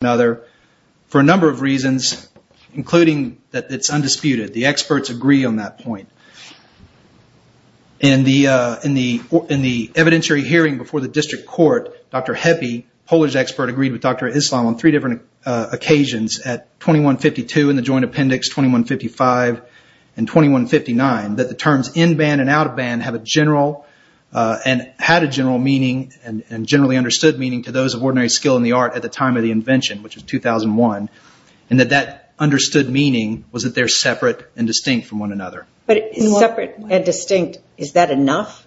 For a number of reasons, including that it's undisputed, the experts agree on that point. In the evidentiary hearing before the district court, Dr. Heppe, a Polish expert, agreed with Dr. Islam on three different occasions at 2152 in the Joint Appendix, 2155, and 2159 that the terms in-band and out-of-band have a general and had a general meaning and generally the invention, which is 2001, and that that understood meaning was that they're separate and distinct from one another. But separate and distinct, is that enough?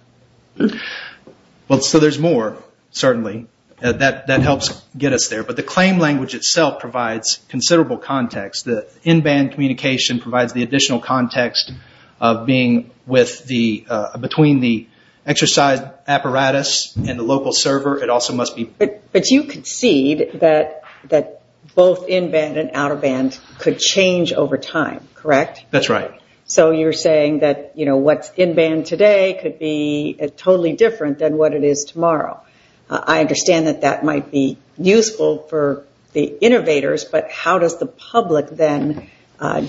Well, so there's more, certainly. That helps get us there. But the claim language itself provides considerable context. The in-band communication provides the additional context of being with the, between the exercise apparatus and the local server. It also must be... But you concede that both in-band and out-of-band could change over time, correct? That's right. So you're saying that what's in-band today could be totally different than what it is tomorrow. I understand that that might be useful for the innovators, but how does the public then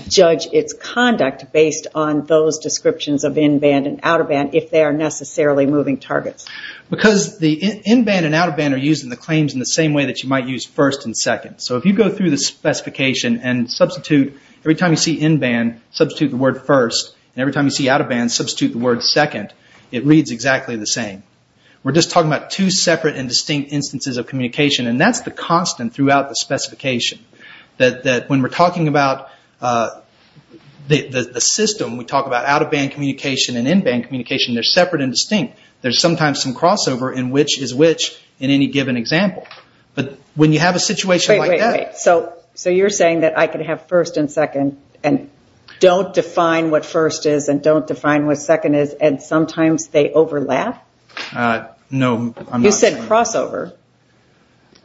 judge its conduct based on those descriptions of in-band and out-of-band if they are necessarily moving targets? Because the in-band and out-of-band are used in the claims in the same way that you might use first and second. So if you go through the specification and substitute, every time you see in-band, substitute the word first, and every time you see out-of-band, substitute the word second, it reads exactly the same. We're just talking about two separate and distinct instances of communication, and that's the constant throughout the specification. That when we're talking about the system, we talk about out-of-band communication and in-band communication, they're separate and they have some crossover in which is which in any given example. But when you have a situation like that... Wait, wait, wait. So you're saying that I could have first and second and don't define what first is and don't define what second is, and sometimes they overlap? No, I'm not saying that. You said crossover.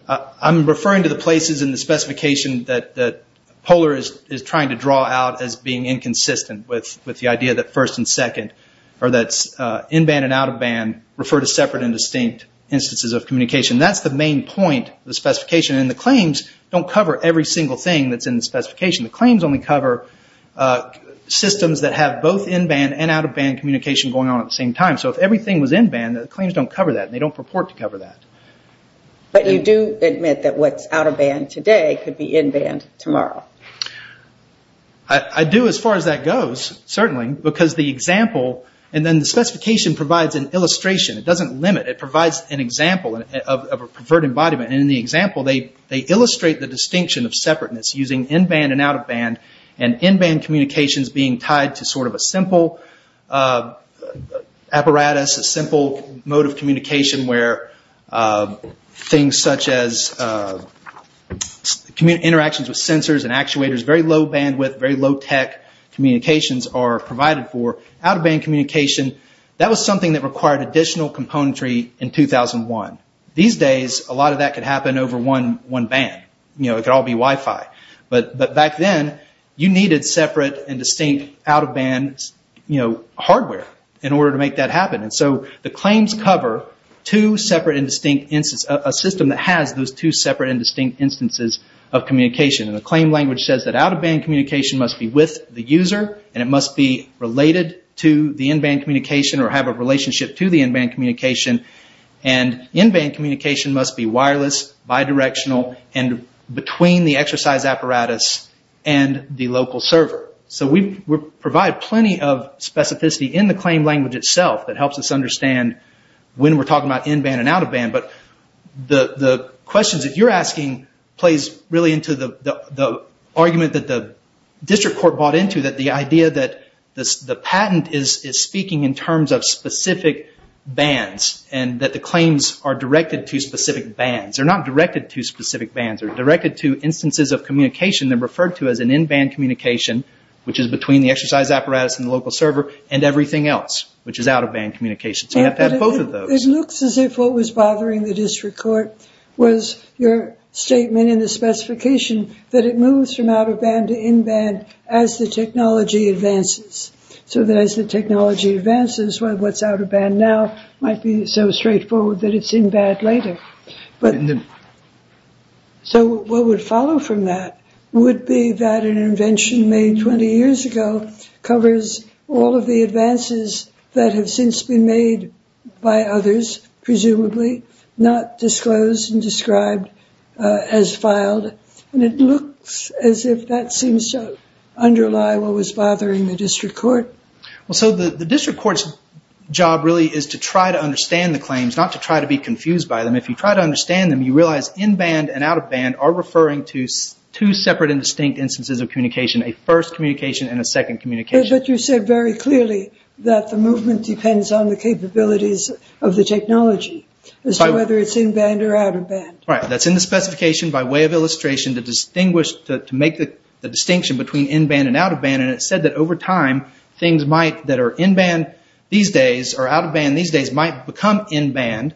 I'm referring to the places in the specification that Polar is trying to draw out as being inconsistent with the idea that first and second, or that in-band and out-of-band refer to separate and distinct instances of communication. That's the main point of the specification. The claims don't cover every single thing that's in the specification. The claims only cover systems that have both in-band and out-of-band communication going on at the same time. So if everything was in-band, the claims don't cover that. They don't purport to cover that. But you do admit that what's out-of-band today could be in-band tomorrow. I do as far as that goes, certainly, because the example and then the specification provides an illustration. It doesn't limit. It provides an example of a preferred embodiment. In the example, they illustrate the distinction of separateness using in-band and out-of-band and in-band communications being tied to a simple apparatus, a simple mode of communication where things such as interactions with sensors and actuators, very low bandwidth, very low bandwidth, required additional componentry in 2001. These days, a lot of that could happen over one band. It could all be Wi-Fi. But back then, you needed separate and distinct out-of-band hardware in order to make that happen. The claims cover a system that has those two separate and distinct instances of communication. The claim language says that out-of-band communication must be with the user and it must be related to the in-band communication or have a relationship to the in-band communication. In-band communication must be wireless, bidirectional, and between the exercise apparatus and the local server. We provide plenty of specificity in the claim language itself that helps us understand when we're talking about in-band and out-of-band. But the questions that you're asking plays really into the argument that the district court bought into, that the idea that the patent is speaking in terms of specific bands and that the claims are directed to specific bands. They're not directed to specific bands. They're directed to instances of communication that are referred to as an in-band communication, which is between the exercise apparatus and the local server, and everything else, which is out-of-band communication. So you have to have both of those. It looks as if what was bothering the district court was your statement in the specification that it moves from out-of-band to in-band as the technology advances. So that as the technology advances, what's out-of-band now might be so straightforward that it's in-band later. So what would follow from that would be that an invention made 20 years ago covers all of the advances that have since been made by others, presumably, not disclosed and described as filed. And it looks as if that seems to underlie what was bothering the district court. Well, so the district court's job really is to try to understand the claims, not to try to be confused by them. If you try to understand them, you realize in-band and out-of-band are referring to two separate and distinct instances of communication, a first communication and a second communication. But you said very clearly that the movement depends on the capabilities of the technology, as to whether it's in-band or out-of-band. Right. That's in the specification by way of illustration to distinguish, to make the distinction between in-band and out-of-band. And it said that over time, things that are in-band these days or out-of-band these days might become in-band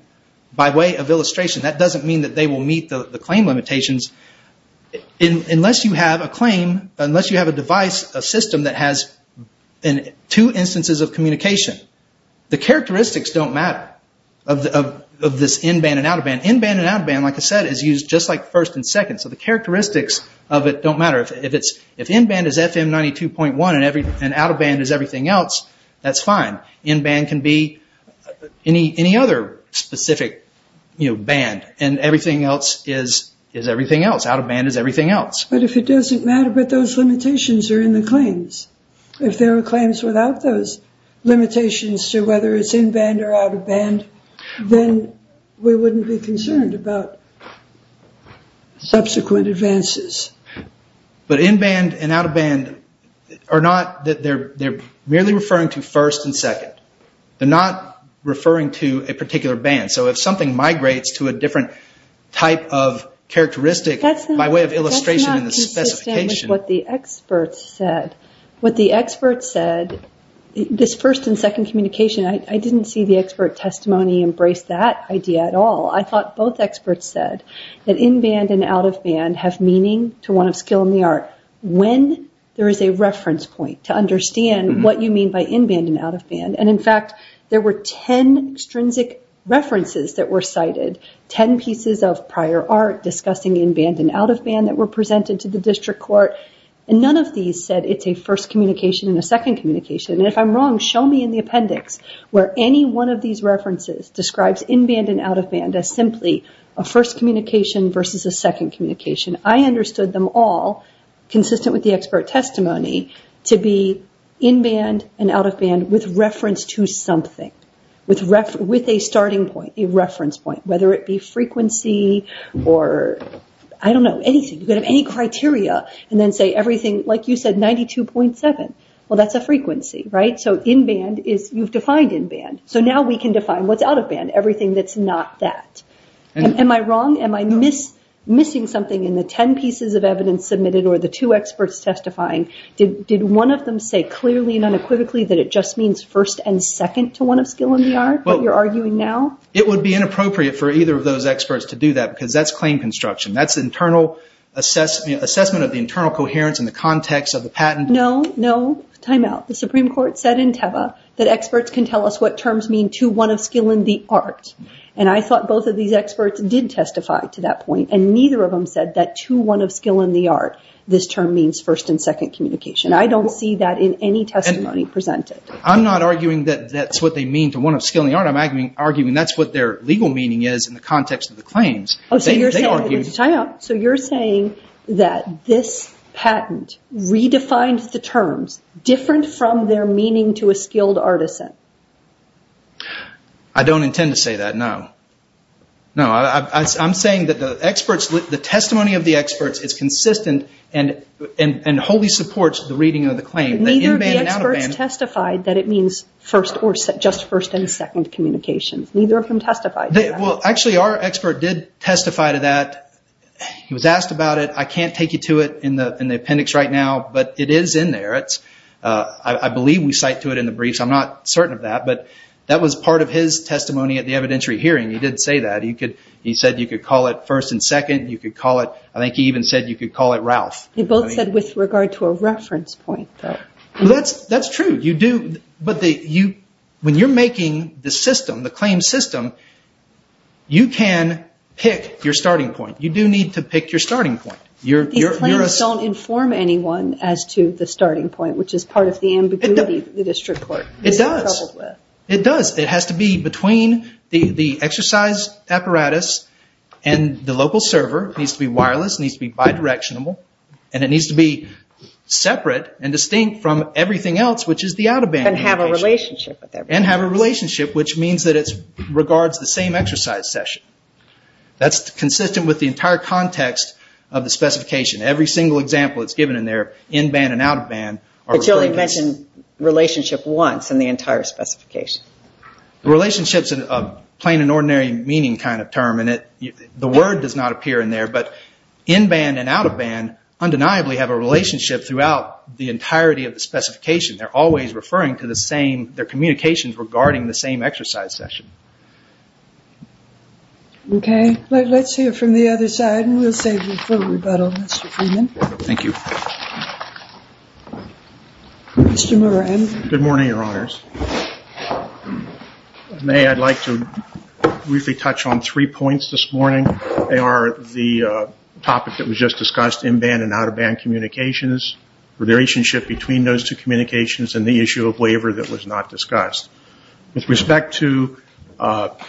by way of illustration. That doesn't mean that they will meet the claim limitations. Unless you have a claim, unless you have a device, a system that has two instances of communication, the characteristics don't matter of this in-band and out-of-band. In-band and out-of-band, like I said, is used just like first and second. So the characteristics of it don't matter. If in-band is FM 92.1 and out-of-band is everything else, that's fine. In-band can be any other specific band and everything else is everything else. Out-of-band is everything else. But if it doesn't matter, but those limitations are in the claims. If there were claims without those limitations to whether it's in-band or out-of-band, then we wouldn't be concerned about subsequent advances. But in-band and out-of-band are not, they're merely referring to first and second. They're not referring to a particular band. So if something migrates to a different type of band, that's not consistent with what the experts said. What the experts said, this first and second communication, I didn't see the expert testimony embrace that idea at all. I thought both experts said that in-band and out-of-band have meaning to one of skill in the art when there is a reference point to understand what you mean by in-band and out-of-band. And in fact, there were 10 extrinsic references that were cited, 10 pieces of prior art discussing in-band and out-of-band that were presented to the district court. And none of these said it's a first communication and a second communication. And if I'm wrong, show me in the appendix where any one of these references describes in-band and out-of-band as simply a first communication versus a second communication. I understood them all consistent with the expert testimony to be in-band and out-of-band with reference to something, with a starting point, a reference point, whether it be frequency or, I don't know, anything. You could have any criteria and then say everything, like you said, 92.7. Well, that's a frequency, right? So in-band is, you've defined in-band. So now we can define what's out-of-band, everything that's not that. Am I wrong? Am I missing something in the 10 pieces of evidence submitted or the two experts testifying? Did one of them say clearly and unequivocally that it just means first and second to one of skill in the art that you're arguing now? It would be inappropriate for either of those experts to do that because that's claim construction. That's internal assessment of the internal coherence and the context of the patent. No, no, time out. The Supreme Court said in Teva that experts can tell us what terms mean to one of skill in the art. And I thought both of these experts did testify to that point. And neither of them said that to one of skill in the art, this term means first and second communication. I don't see that in any testimony presented. I'm not arguing that that's what they mean to one of skill in the art. I'm arguing that's what their legal meaning is in the context of the claims. Oh, so you're saying, time out, so you're saying that this patent redefined the terms different from their meaning to a skilled artisan? I don't intend to say that, no. No, I'm saying that the testimony of the experts is consistent and wholly supports the reading of the claim. Neither of the experts testified that it means first or just first and second communication. Neither of them testified to that. Well, actually our expert did testify to that. He was asked about it. I can't take you to it in the appendix right now, but it is in there. I believe we cite to it in the briefs. I'm not certain of that, but that was part of his testimony at the evidentiary hearing. He did say that. He said you could call it first and second. You could call it, I think he even said you could call it Ralph. You both said with regard to a reference point, though. Well, that's true. You do, but when you're making the system, the claim system, you can pick your starting point. You do need to pick your starting point. These claims don't inform anyone as to the reason you're troubled with. It does. It has to be between the exercise apparatus and the local server. It needs to be wireless. It needs to be bi-directionable. It needs to be separate and distinct from everything else, which is the out-of-band communication. And have a relationship with everything else. And have a relationship, which means that it regards the same exercise session. That's consistent with the entire context of the specification. Every single example that's given in there, in-band and out-of-band, are in the entire specification. The relationship's a plain and ordinary meaning kind of term, and the word does not appear in there, but in-band and out-of-band undeniably have a relationship throughout the entirety of the specification. They're always referring to the same, their communications regarding the same exercise session. Okay. Let's hear from the other side, and we'll save you for rebuttal, Mr. Freeman. Thank you. Mr. Moran. Good morning, Your Honors. If I may, I'd like to briefly touch on three points this morning. They are the topic that was just discussed, in-band and out-of-band communications, the relationship between those two communications, and the issue of waiver that was not discussed. With respect to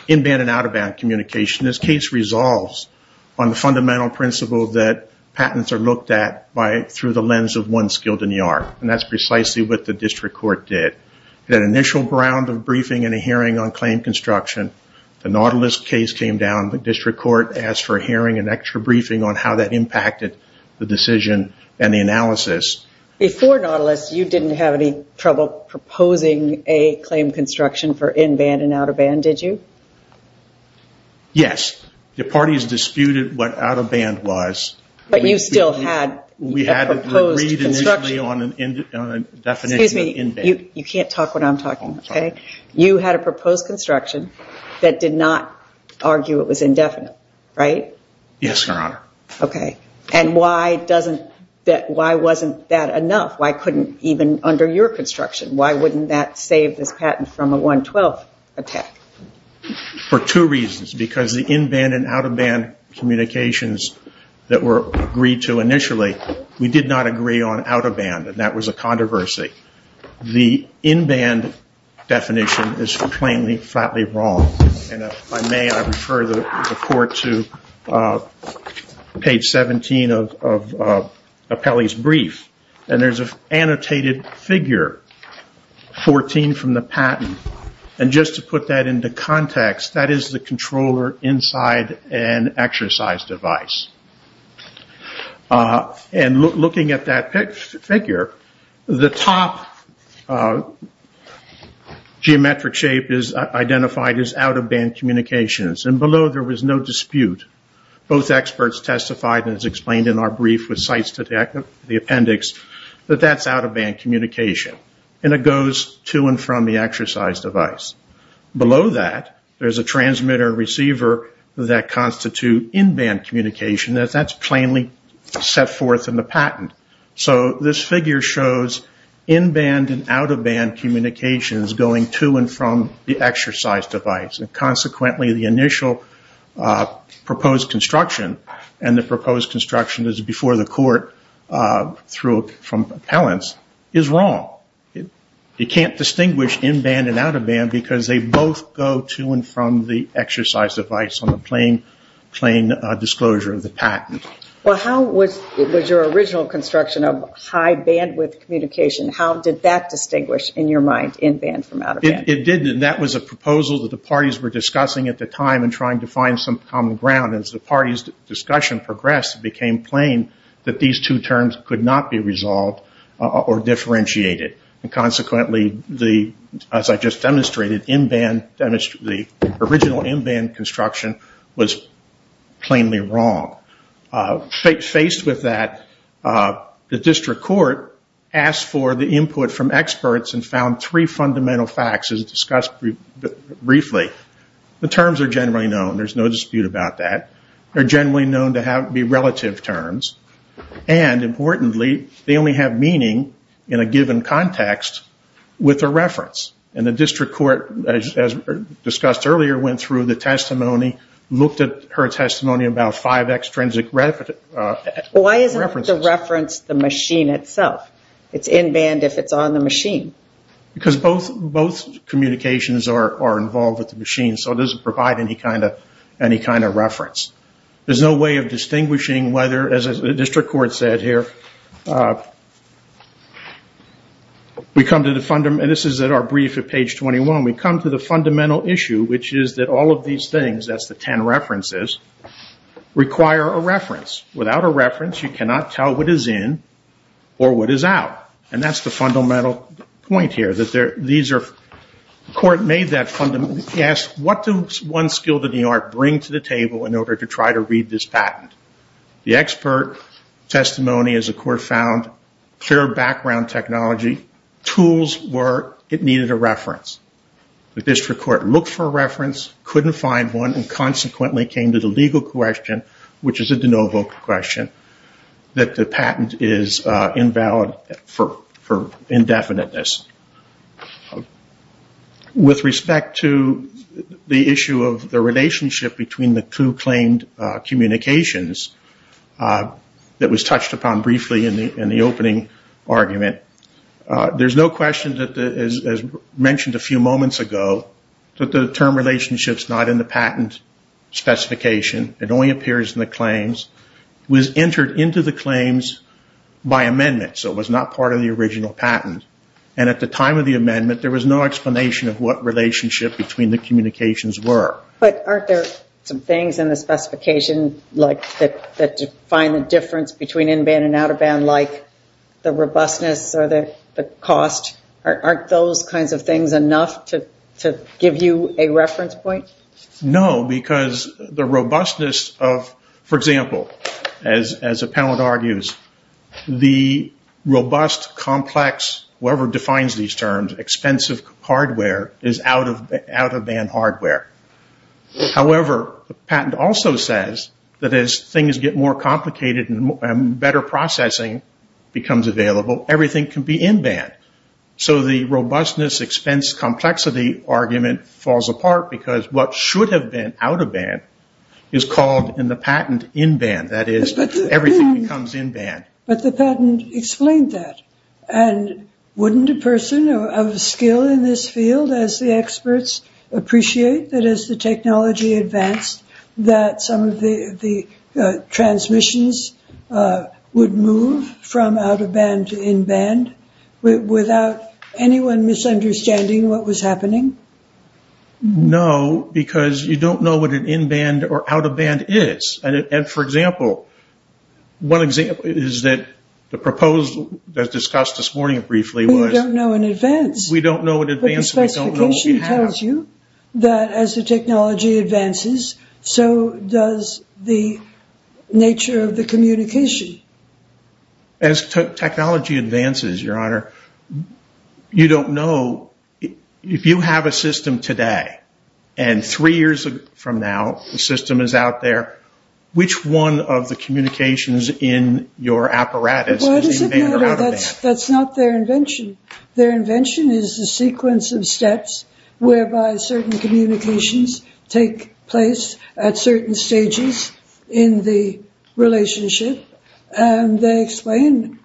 in-band and out-of-band communication, this case resolves on the fundamental principle that patents are looked at through the lens of one skilled enyar, and that's precisely what the district court did. That initial round of briefing and a hearing on claim construction, the Nautilus case came down. The district court asked for a hearing, an extra briefing on how that impacted the decision and the analysis. Before Nautilus, you didn't have any trouble proposing a claim construction for in-band and out-of-band, did you? Yes. The parties disputed what out-of-band was. But you still had a proposed construction. We had agreed initially on a definition of in-band. You can't talk when I'm talking, okay? You had a proposed construction that did not argue it was indefinite, right? Yes, Your Honor. And why wasn't that enough? Why couldn't even under your construction, why wouldn't that save this patent from a 112 attack? For two reasons, because the in-band and out-of-band communications that were agreed to initially, we did not agree on out-of-band, and that was a controversy. The in-band definition is plainly, flatly wrong. And if I may, I refer the court to page 17 of Appelli's brief, and there's an annotated figure, 14 from the patent. And just to put that into context, that is the controller inside an exercise device. And looking at that figure, the top geometric shape is identified as out-of-band communications, and below there was no dispute. Both experts testified, and it's explained in our brief with cites to the appendix, that that's out-of-band communication. And it goes to and from the exercise device. Below that, there's a transmitter and receiver that constitute in-band communication, and that's plainly set forth in the patent. So this figure shows in-band and out-of-band communications going to and from the exercise device. And consequently, the initial proposed construction, and the proposed construction is before the court from Appellant's, is wrong. You can't distinguish in-band and out-of-band because they both go to and from the exercise device on the plain disclosure of the patent. Well, how was your original construction of high bandwidth communication, how did that distinguish, in your mind, in-band from out-of-band? It did, and that was a proposal that the parties were discussing at the time and trying to find some common ground. As the parties' discussion progressed, it became plain that these two terms could not be resolved or differentiated. And consequently, as I just demonstrated, the original in-band construction was plainly wrong. Faced with that, the district court asked for the input from experts and found three fundamental facts as discussed briefly. The terms are generally known, there's no dispute about that. They're generally known to be relative terms, and importantly, they only have meaning in a given context with a reference. And the district court, as discussed earlier, went through the testimony, looked at her testimony about five extrinsic references. Why isn't the reference the machine itself? It's in-band if it's on the machine. Because both communications are involved with the machine, so it doesn't provide any kind of reference. There's no way of distinguishing whether, as the district court said here, this is at our brief at page 21, we come to the fundamental issue, which is that all of these things, that's the 10 references, require a reference. Without a reference, you cannot tell what is in or what is out. And that's the fundamental point here. What does one skill to the art bring to the table in order to try to read this patent? The expert testimony, as the court found, clear background technology, tools where it needed a reference. The district court looked for a reference, couldn't find one, and consequently came to the legal question, which is a de novo question, that the patent is invalid for indefiniteness. With respect to the issue of the relationship between the two claimed communications that was touched upon briefly in the opening argument, there's no question that, as mentioned a few moments ago, that the term relationships not in the patent specification, it only appears in the claims, was entered into the claims by amendment, so it was not part of the original patent. And at the time of the amendment, there was no explanation of what relationship between the communications were. But aren't there some things in the specification that define the difference between in-band and out-of-band, like the robustness or the cost? Aren't those kinds of things enough to give you a reference point? No, because the robustness of, for example, as a panelist argues, the robust, complex, whoever defines these terms, expensive hardware is out-of-band hardware. However, the patent also says that as things get more complicated and better processing becomes available, everything can be in-band. So the robustness expense complexity argument falls apart because what should have been out-of-band is called in the patent in-band, that is, everything becomes in-band. But the patent explained that. And wouldn't a person of skill in this field as the experts appreciate that as the technology advanced that some of the transmissions would move from out-of-band to in-band without anyone misunderstanding what was happening? No, because you don't know what an in-band or out-of-band is. And for example, one example is that the proposal that was discussed this morning briefly was... We don't know in advance. We don't know in advance. We don't know what we have. But the specification tells you that as the technology advances, so does the nature of the communication. As technology advances, Your Honor, you don't know if you have a system today and three years from now, the system is out there, which one of the communications in your apparatus is in-band or out-of-band? That's not their invention. Their invention is the sequence of steps whereby certain communications take place at certain stages in the relationship. And they explain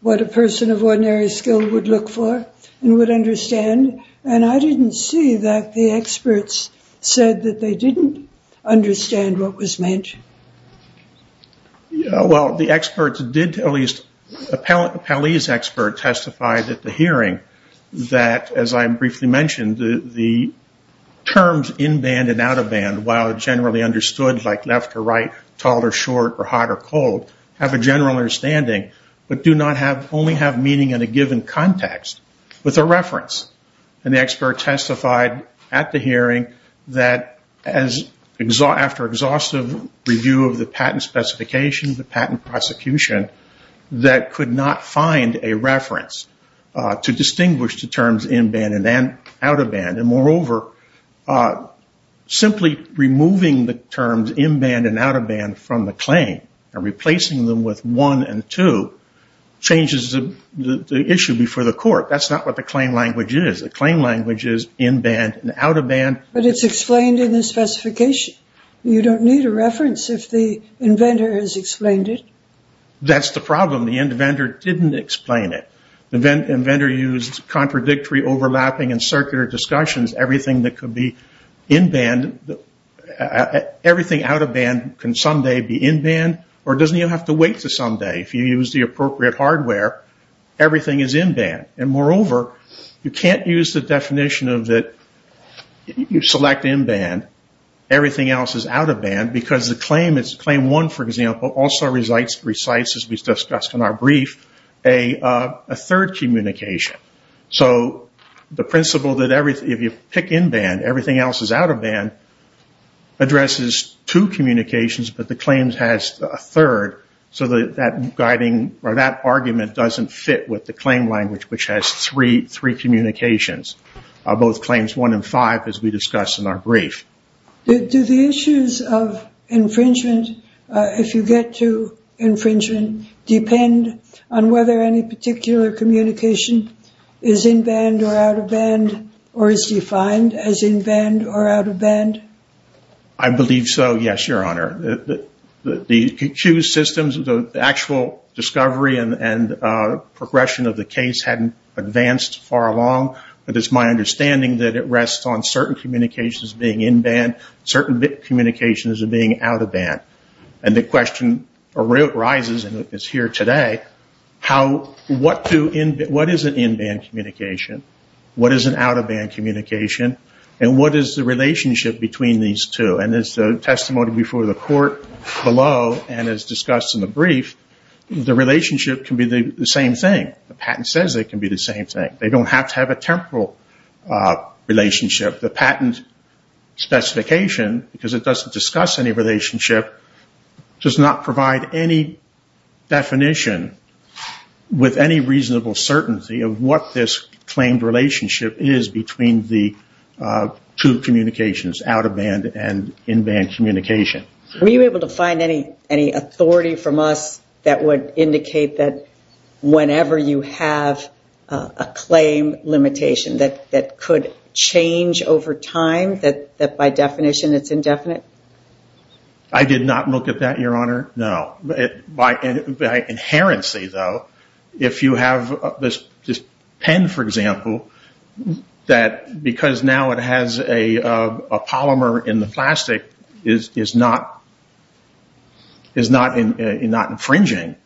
what a person of ordinary skill would look for and would understand. And I didn't see that the experts said that they didn't understand what was meant. Yeah, well, the experts did, at least, a Palese expert testified at the hearing that, as I briefly mentioned, the terms in-band and out-of-band, while generally understood like left or right, tall or short, or hot or cold, have a general understanding, but do not only have meaning in a given context, with a reference. And the expert testified at the hearing that, after exhaustive review of the patent specifications, the patent prosecution, that could not find a reference to distinguish the terms in-band and out-of-band. And moreover, simply removing the terms in-band and out-of-band from the claim and replacing them with one and two changes the issue before the court. That's not what the claim language is. The claim language is in-band and out-of-band. But it's explained in the specification. You don't need a reference if the inventor has explained it. That's the problem. The inventor didn't explain it. The inventor used contradictory overlapping and circular discussions. Everything that could be in-band, everything out-of-band can someday be in-band. Or it doesn't even have to wait until someday. If you use the appropriate hardware, everything is in-band. And moreover, you can't use the definition of that you select in-band, everything else is out-of-band, because the claim, claim one, for example, also recites, as we discussed in our brief, a third communication. So the principle that if you pick in-band, everything else is out-of-band, addresses two communications, but the claims has a third. So that argument doesn't fit with the claim language, which has three communications, both claims one and five, as we discussed in our brief. Do the issues of infringement, if you get to infringement, depend on whether any particular communication is in-band or out-of-band, or is defined as in-band or out-of-band? I believe so, yes, Your Honor. The accused systems, the actual discovery and progression of the case hadn't advanced far along, but it's my understanding that it rests on certain communications being in-band, certain communications being out-of-band. And the question arises, and it's here today, what is an in-band communication, what is an out-of-band communication, and what is the relationship between these two? And as the testimony before the court below, and as discussed in the brief, the relationship can be the same thing. The patent says it can be the same thing. They don't have to have a temporal relationship. The patent specification, because it doesn't discuss any relationship, does not provide any definition with any reasonable certainty of what this claimed relationship is between the two communications, out-of-band and in-band communication. Were you able to find any authority from us that would indicate that whenever you have a claim limitation that could change over time, that by definition it's indefinite? I did not look at that, Your Honor, no. By inherency, though, if you have this pen, for instance, that because now it has a polymer in the plastic is not infringing,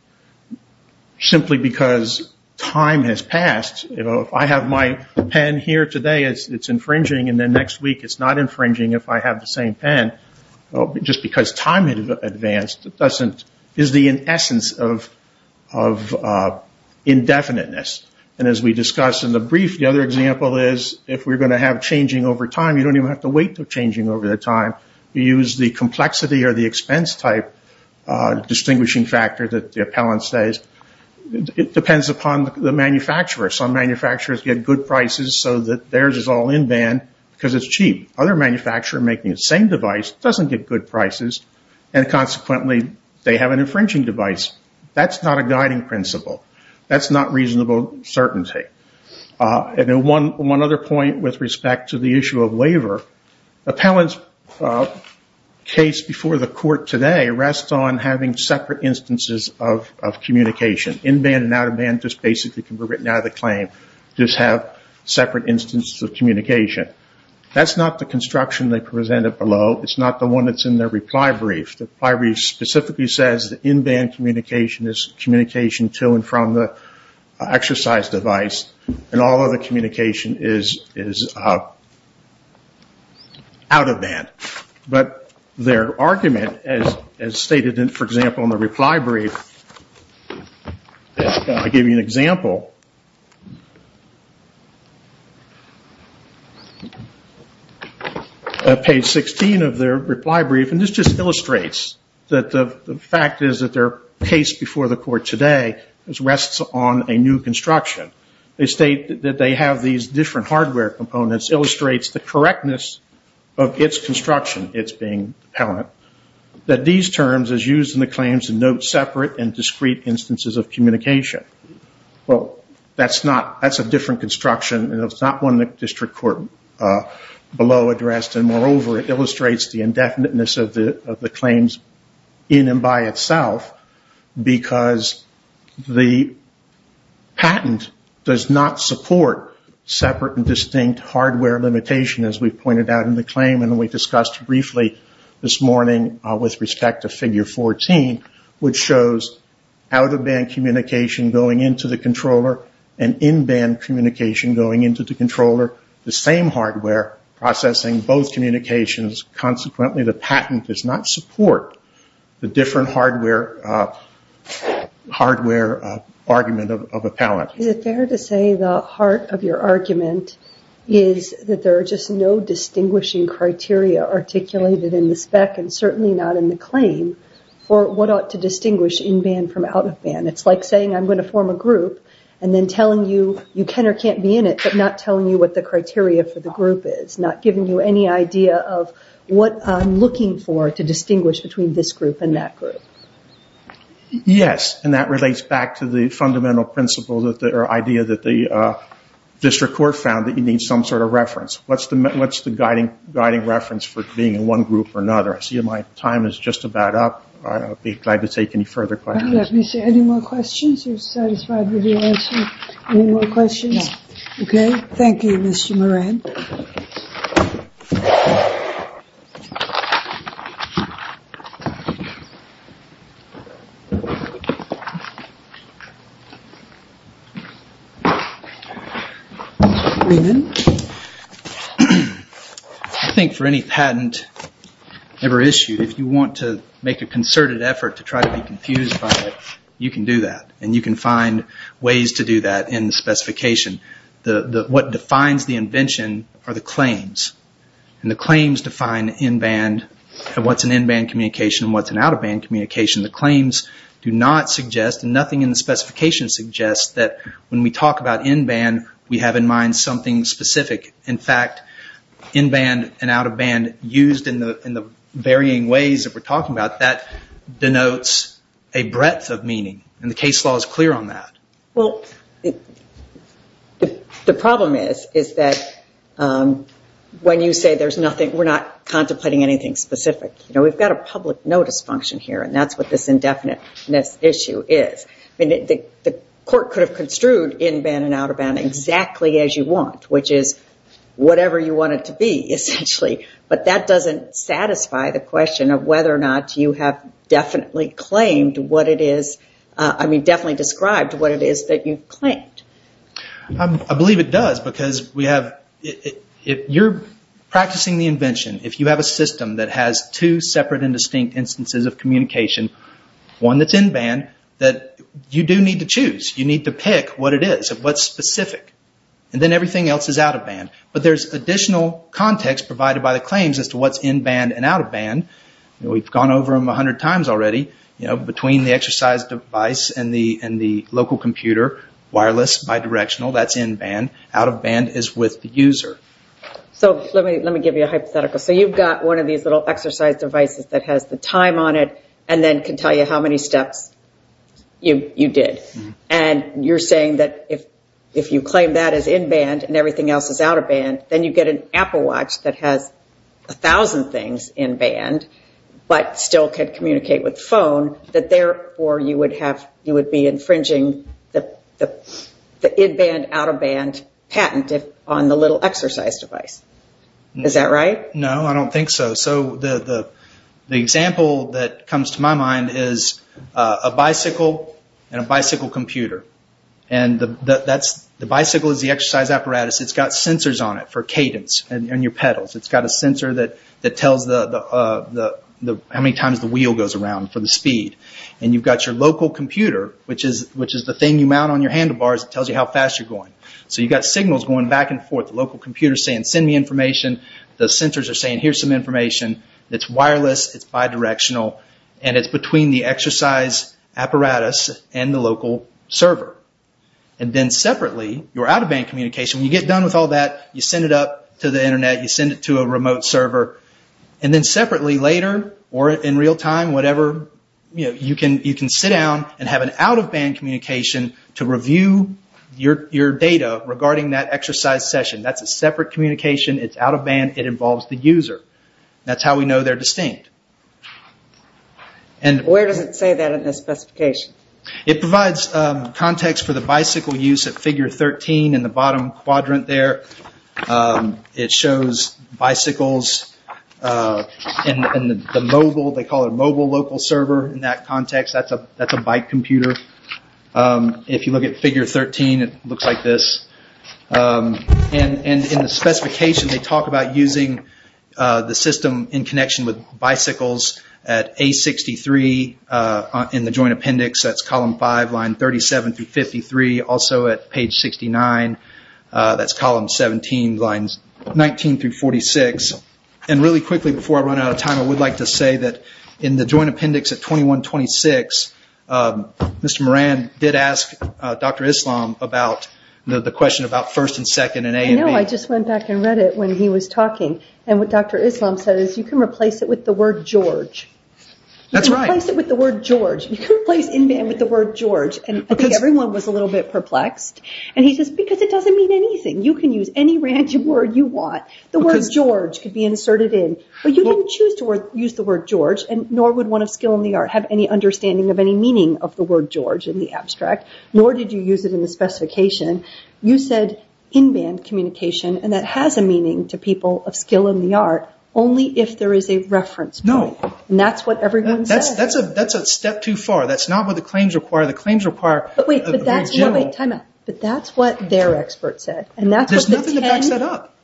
simply because time has passed. If I have my pen here today, it's infringing, and then next week it's not infringing if I have the same pen. Just because time has advanced is the essence of indefiniteness. As we discussed in the brief, the other example is if we're going to have changing over time, you don't even have to wait for changing over the time. You use the complexity or the expense type distinguishing factor that the appellant says. It depends upon the manufacturer. Some manufacturers get good prices so that theirs is all in-band because it's cheap. Other manufacturer making the same device doesn't get good prices, and consequently they have an infringing device. That's not a guiding principle. That's not reasonable certainty. One other point with respect to the issue of waiver, appellant's case before the court today rests on having separate instances of communication. In-band and out-of-band just basically can be written out of the claim, just have separate instances of communication. That's not the construction they presented below. It's not the one that's in their reply brief. The reply brief specifically says that in-band communication is communication to and from the exercise device, and all other communication is out-of-band. Their argument, as stated for example in the reply brief, I'll give you an example. Page 16 of their reply brief, and this just illustrates that the fact is that their case before the court today rests on a new construction. They state that they have these different hardware components, illustrates the correctness of its construction, its being appellant, that these terms are used in the claims to note separate and discrete instances of communication. Well, that's a different construction. It's not one the district court below addressed, and moreover, it illustrates the indefiniteness of the claims in and by itself, because the patent does not support separate and distinct hardware limitation, as we pointed out in the claim and we discussed briefly this morning with respect to figure 14, which shows out-of-band communication going into the controller, and in-band communication going into the controller, the same hardware processing both communications. Consequently, the patent does not support the different hardware argument of appellant. Is it fair to say the heart of your argument is that there are just no distinguishing criteria articulated in the spec, and certainly not in the claim, for what ought to distinguish in-band from out-of-band. It's like saying I'm going to form a group, and then telling you you can or can't be in it, but not telling you what the criteria for the group is, not giving you any idea of what I'm looking for to distinguish between this group and that group. Yes, and that relates back to the fundamental principle or idea that the district court found that you need some sort of reference. What's the guiding reference for being in one group or another? I see my time is just about up. I'll be glad to take any further questions. Let me see. Any more questions? You're satisfied with your answer? Any more questions? Okay. Thank you, Mr. Moran. I think for any patent ever issued, if you want to make a concerted effort to try to be confused by it, you can do that, and you can find ways to do that in the specification. What defines the invention are the claims, and the claims define in-band and what's an in-band communication and what's an out-of-band communication. The claims do not suggest, and nothing in the specification suggests, that when we talk about in-band, we have in mind something specific. In fact, in-band and out-of-band used in the varying ways that we're talking about, that denotes a breadth of meaning, and the case law is clear on that. Well, the problem is that when you say there's nothing, we're not contemplating anything specific. We've got a public notice function here, and that's what this indefiniteness issue is. The court could have construed in-band and out-of-band exactly as you want, which is whatever you want it to be, essentially, but that doesn't satisfy the question of whether or not you have definitely described what it is that you've claimed. I believe it does, because if you're practicing the invention, if you have a system that has two separate and distinct instances of communication, one that's in-band, you do need to choose. You need to pick what it is, what's specific, and then everything else is out-of-band. But there's additional context provided by the claims as to what's in-band and out-of-band. We've gone over them a hundred times already. Between the exercise device and the local computer, wireless, bidirectional, that's in-band. Out-of-band is with the user. So let me give you a hypothetical. So you've got one of these little exercise devices that has the time on it, and then can tell you how many steps you did. And you're saying that if you claim that as in-band and everything else is out-of-band, then you get an Apple watch that has a thousand things in-band, but still can communicate with the phone, that therefore you would be infringing the in-band, out-of-band patent on the little exercise device. Is that right? No, I don't think so. So the example that comes to my mind is a bicycle and a bicycle and your pedals. It's got a sensor that tells how many times the wheel goes around for the speed. And you've got your local computer, which is the thing you mount on your handlebars that tells you how fast you're going. So you've got signals going back and forth. The local computer is saying, send me information. The sensors are saying, here's some information. It's wireless, it's bidirectional, and it's between the exercise apparatus and the local server. And then separately, your out-of-band communication, when you get done with all that, you send it up to the internet, you send it to a remote server. And then separately, later, or in real time, you can sit down and have an out-of-band communication to review your data regarding that exercise session. That's a separate communication, it's out-of-band, it involves the user. That's how we know they're distinct. Where does it say that in the specification? It provides context for the bicycle use at figure 13 in the bottom quadrant there. It shows bicycles in the mobile, they call it mobile local server in that context. That's a bike computer. If you look at figure 13, it looks like this. In the specification, they talk about using the system in connection with bicycles at A63 in the joint appendix that's column 5, line 37-53, also at page 69, that's column 17, lines 19-46. And really quickly, before I run out of time, I would like to say that in the joint appendix at 21-26, Mr. Moran did ask Dr. Islam about the question about first and second and A and B. I know, I just went back and read it when he was talking. And what Dr. Islam said is you can replace it with the word George. That's right. You can replace in-band with the word George. And I think everyone was a little bit perplexed. And he says, because it doesn't mean anything. You can use any random word you want. The word George could be inserted in. But you didn't choose to use the word George, and nor would one of skill in the art have any understanding of any meaning of the word George in the abstract, nor did you use it in the specification. You said in-band communication, and that has a meaning to people of skill in the art, only if there is a reference point. That's what everyone said. That's a step too far. That's not what the claims require. The claims require a general. But that's what their expert said. There's nothing that backs that up.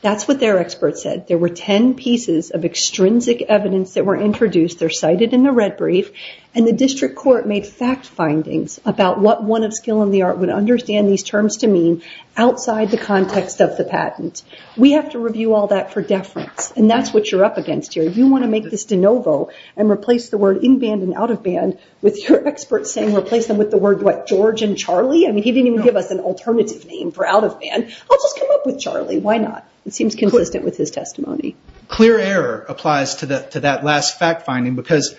That's what their expert said. There were 10 pieces of extrinsic evidence that were introduced. They're cited in the red brief. And the district court made fact findings about what one of skill in the art would understand these terms to mean outside the context of the patent. We have to review all that for deference. And that's what you're up against here. You want to make this de novo and replace the word in-band and out-of-band with your expert saying replace them with the word, what, George and Charlie? He didn't even give us an alternative name for out-of-band. I'll just come up with Charlie. Why not? It seems consistent with his testimony. Clear error applies to that last fact finding because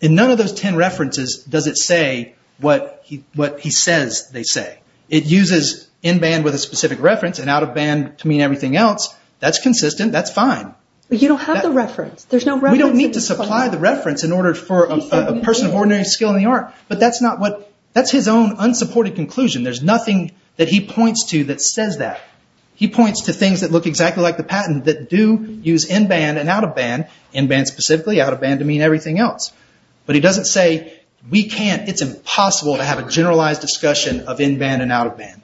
in none of those 10 references does it say what he says they say. It uses in-band with a specific reference and out-of-band to mean everything else. That's consistent. That's fine. But you don't have the reference. We don't need to supply the reference in order for a person of ordinary skill in the art. But that's his own unsupported conclusion. There's nothing that he points to that says that. He points to things that look exactly like the patent that do use in-band and out-of-band, in-band specifically, out-of-band to mean everything else. But he doesn't say we can't, it's impossible to have a generalized discussion of in-band and out-of-band.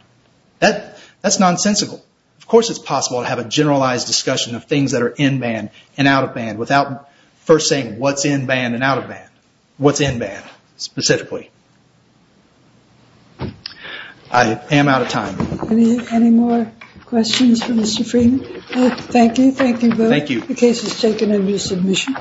That's nonsensical. Of course it's possible to have a generalized discussion of things that are in-band and out-of-band without first saying what's in-band and out-of-band, what's in-band specifically. I am out of time. Any more questions for Mr. Freeman? Thank you. Thank you both. The case is taken under submission.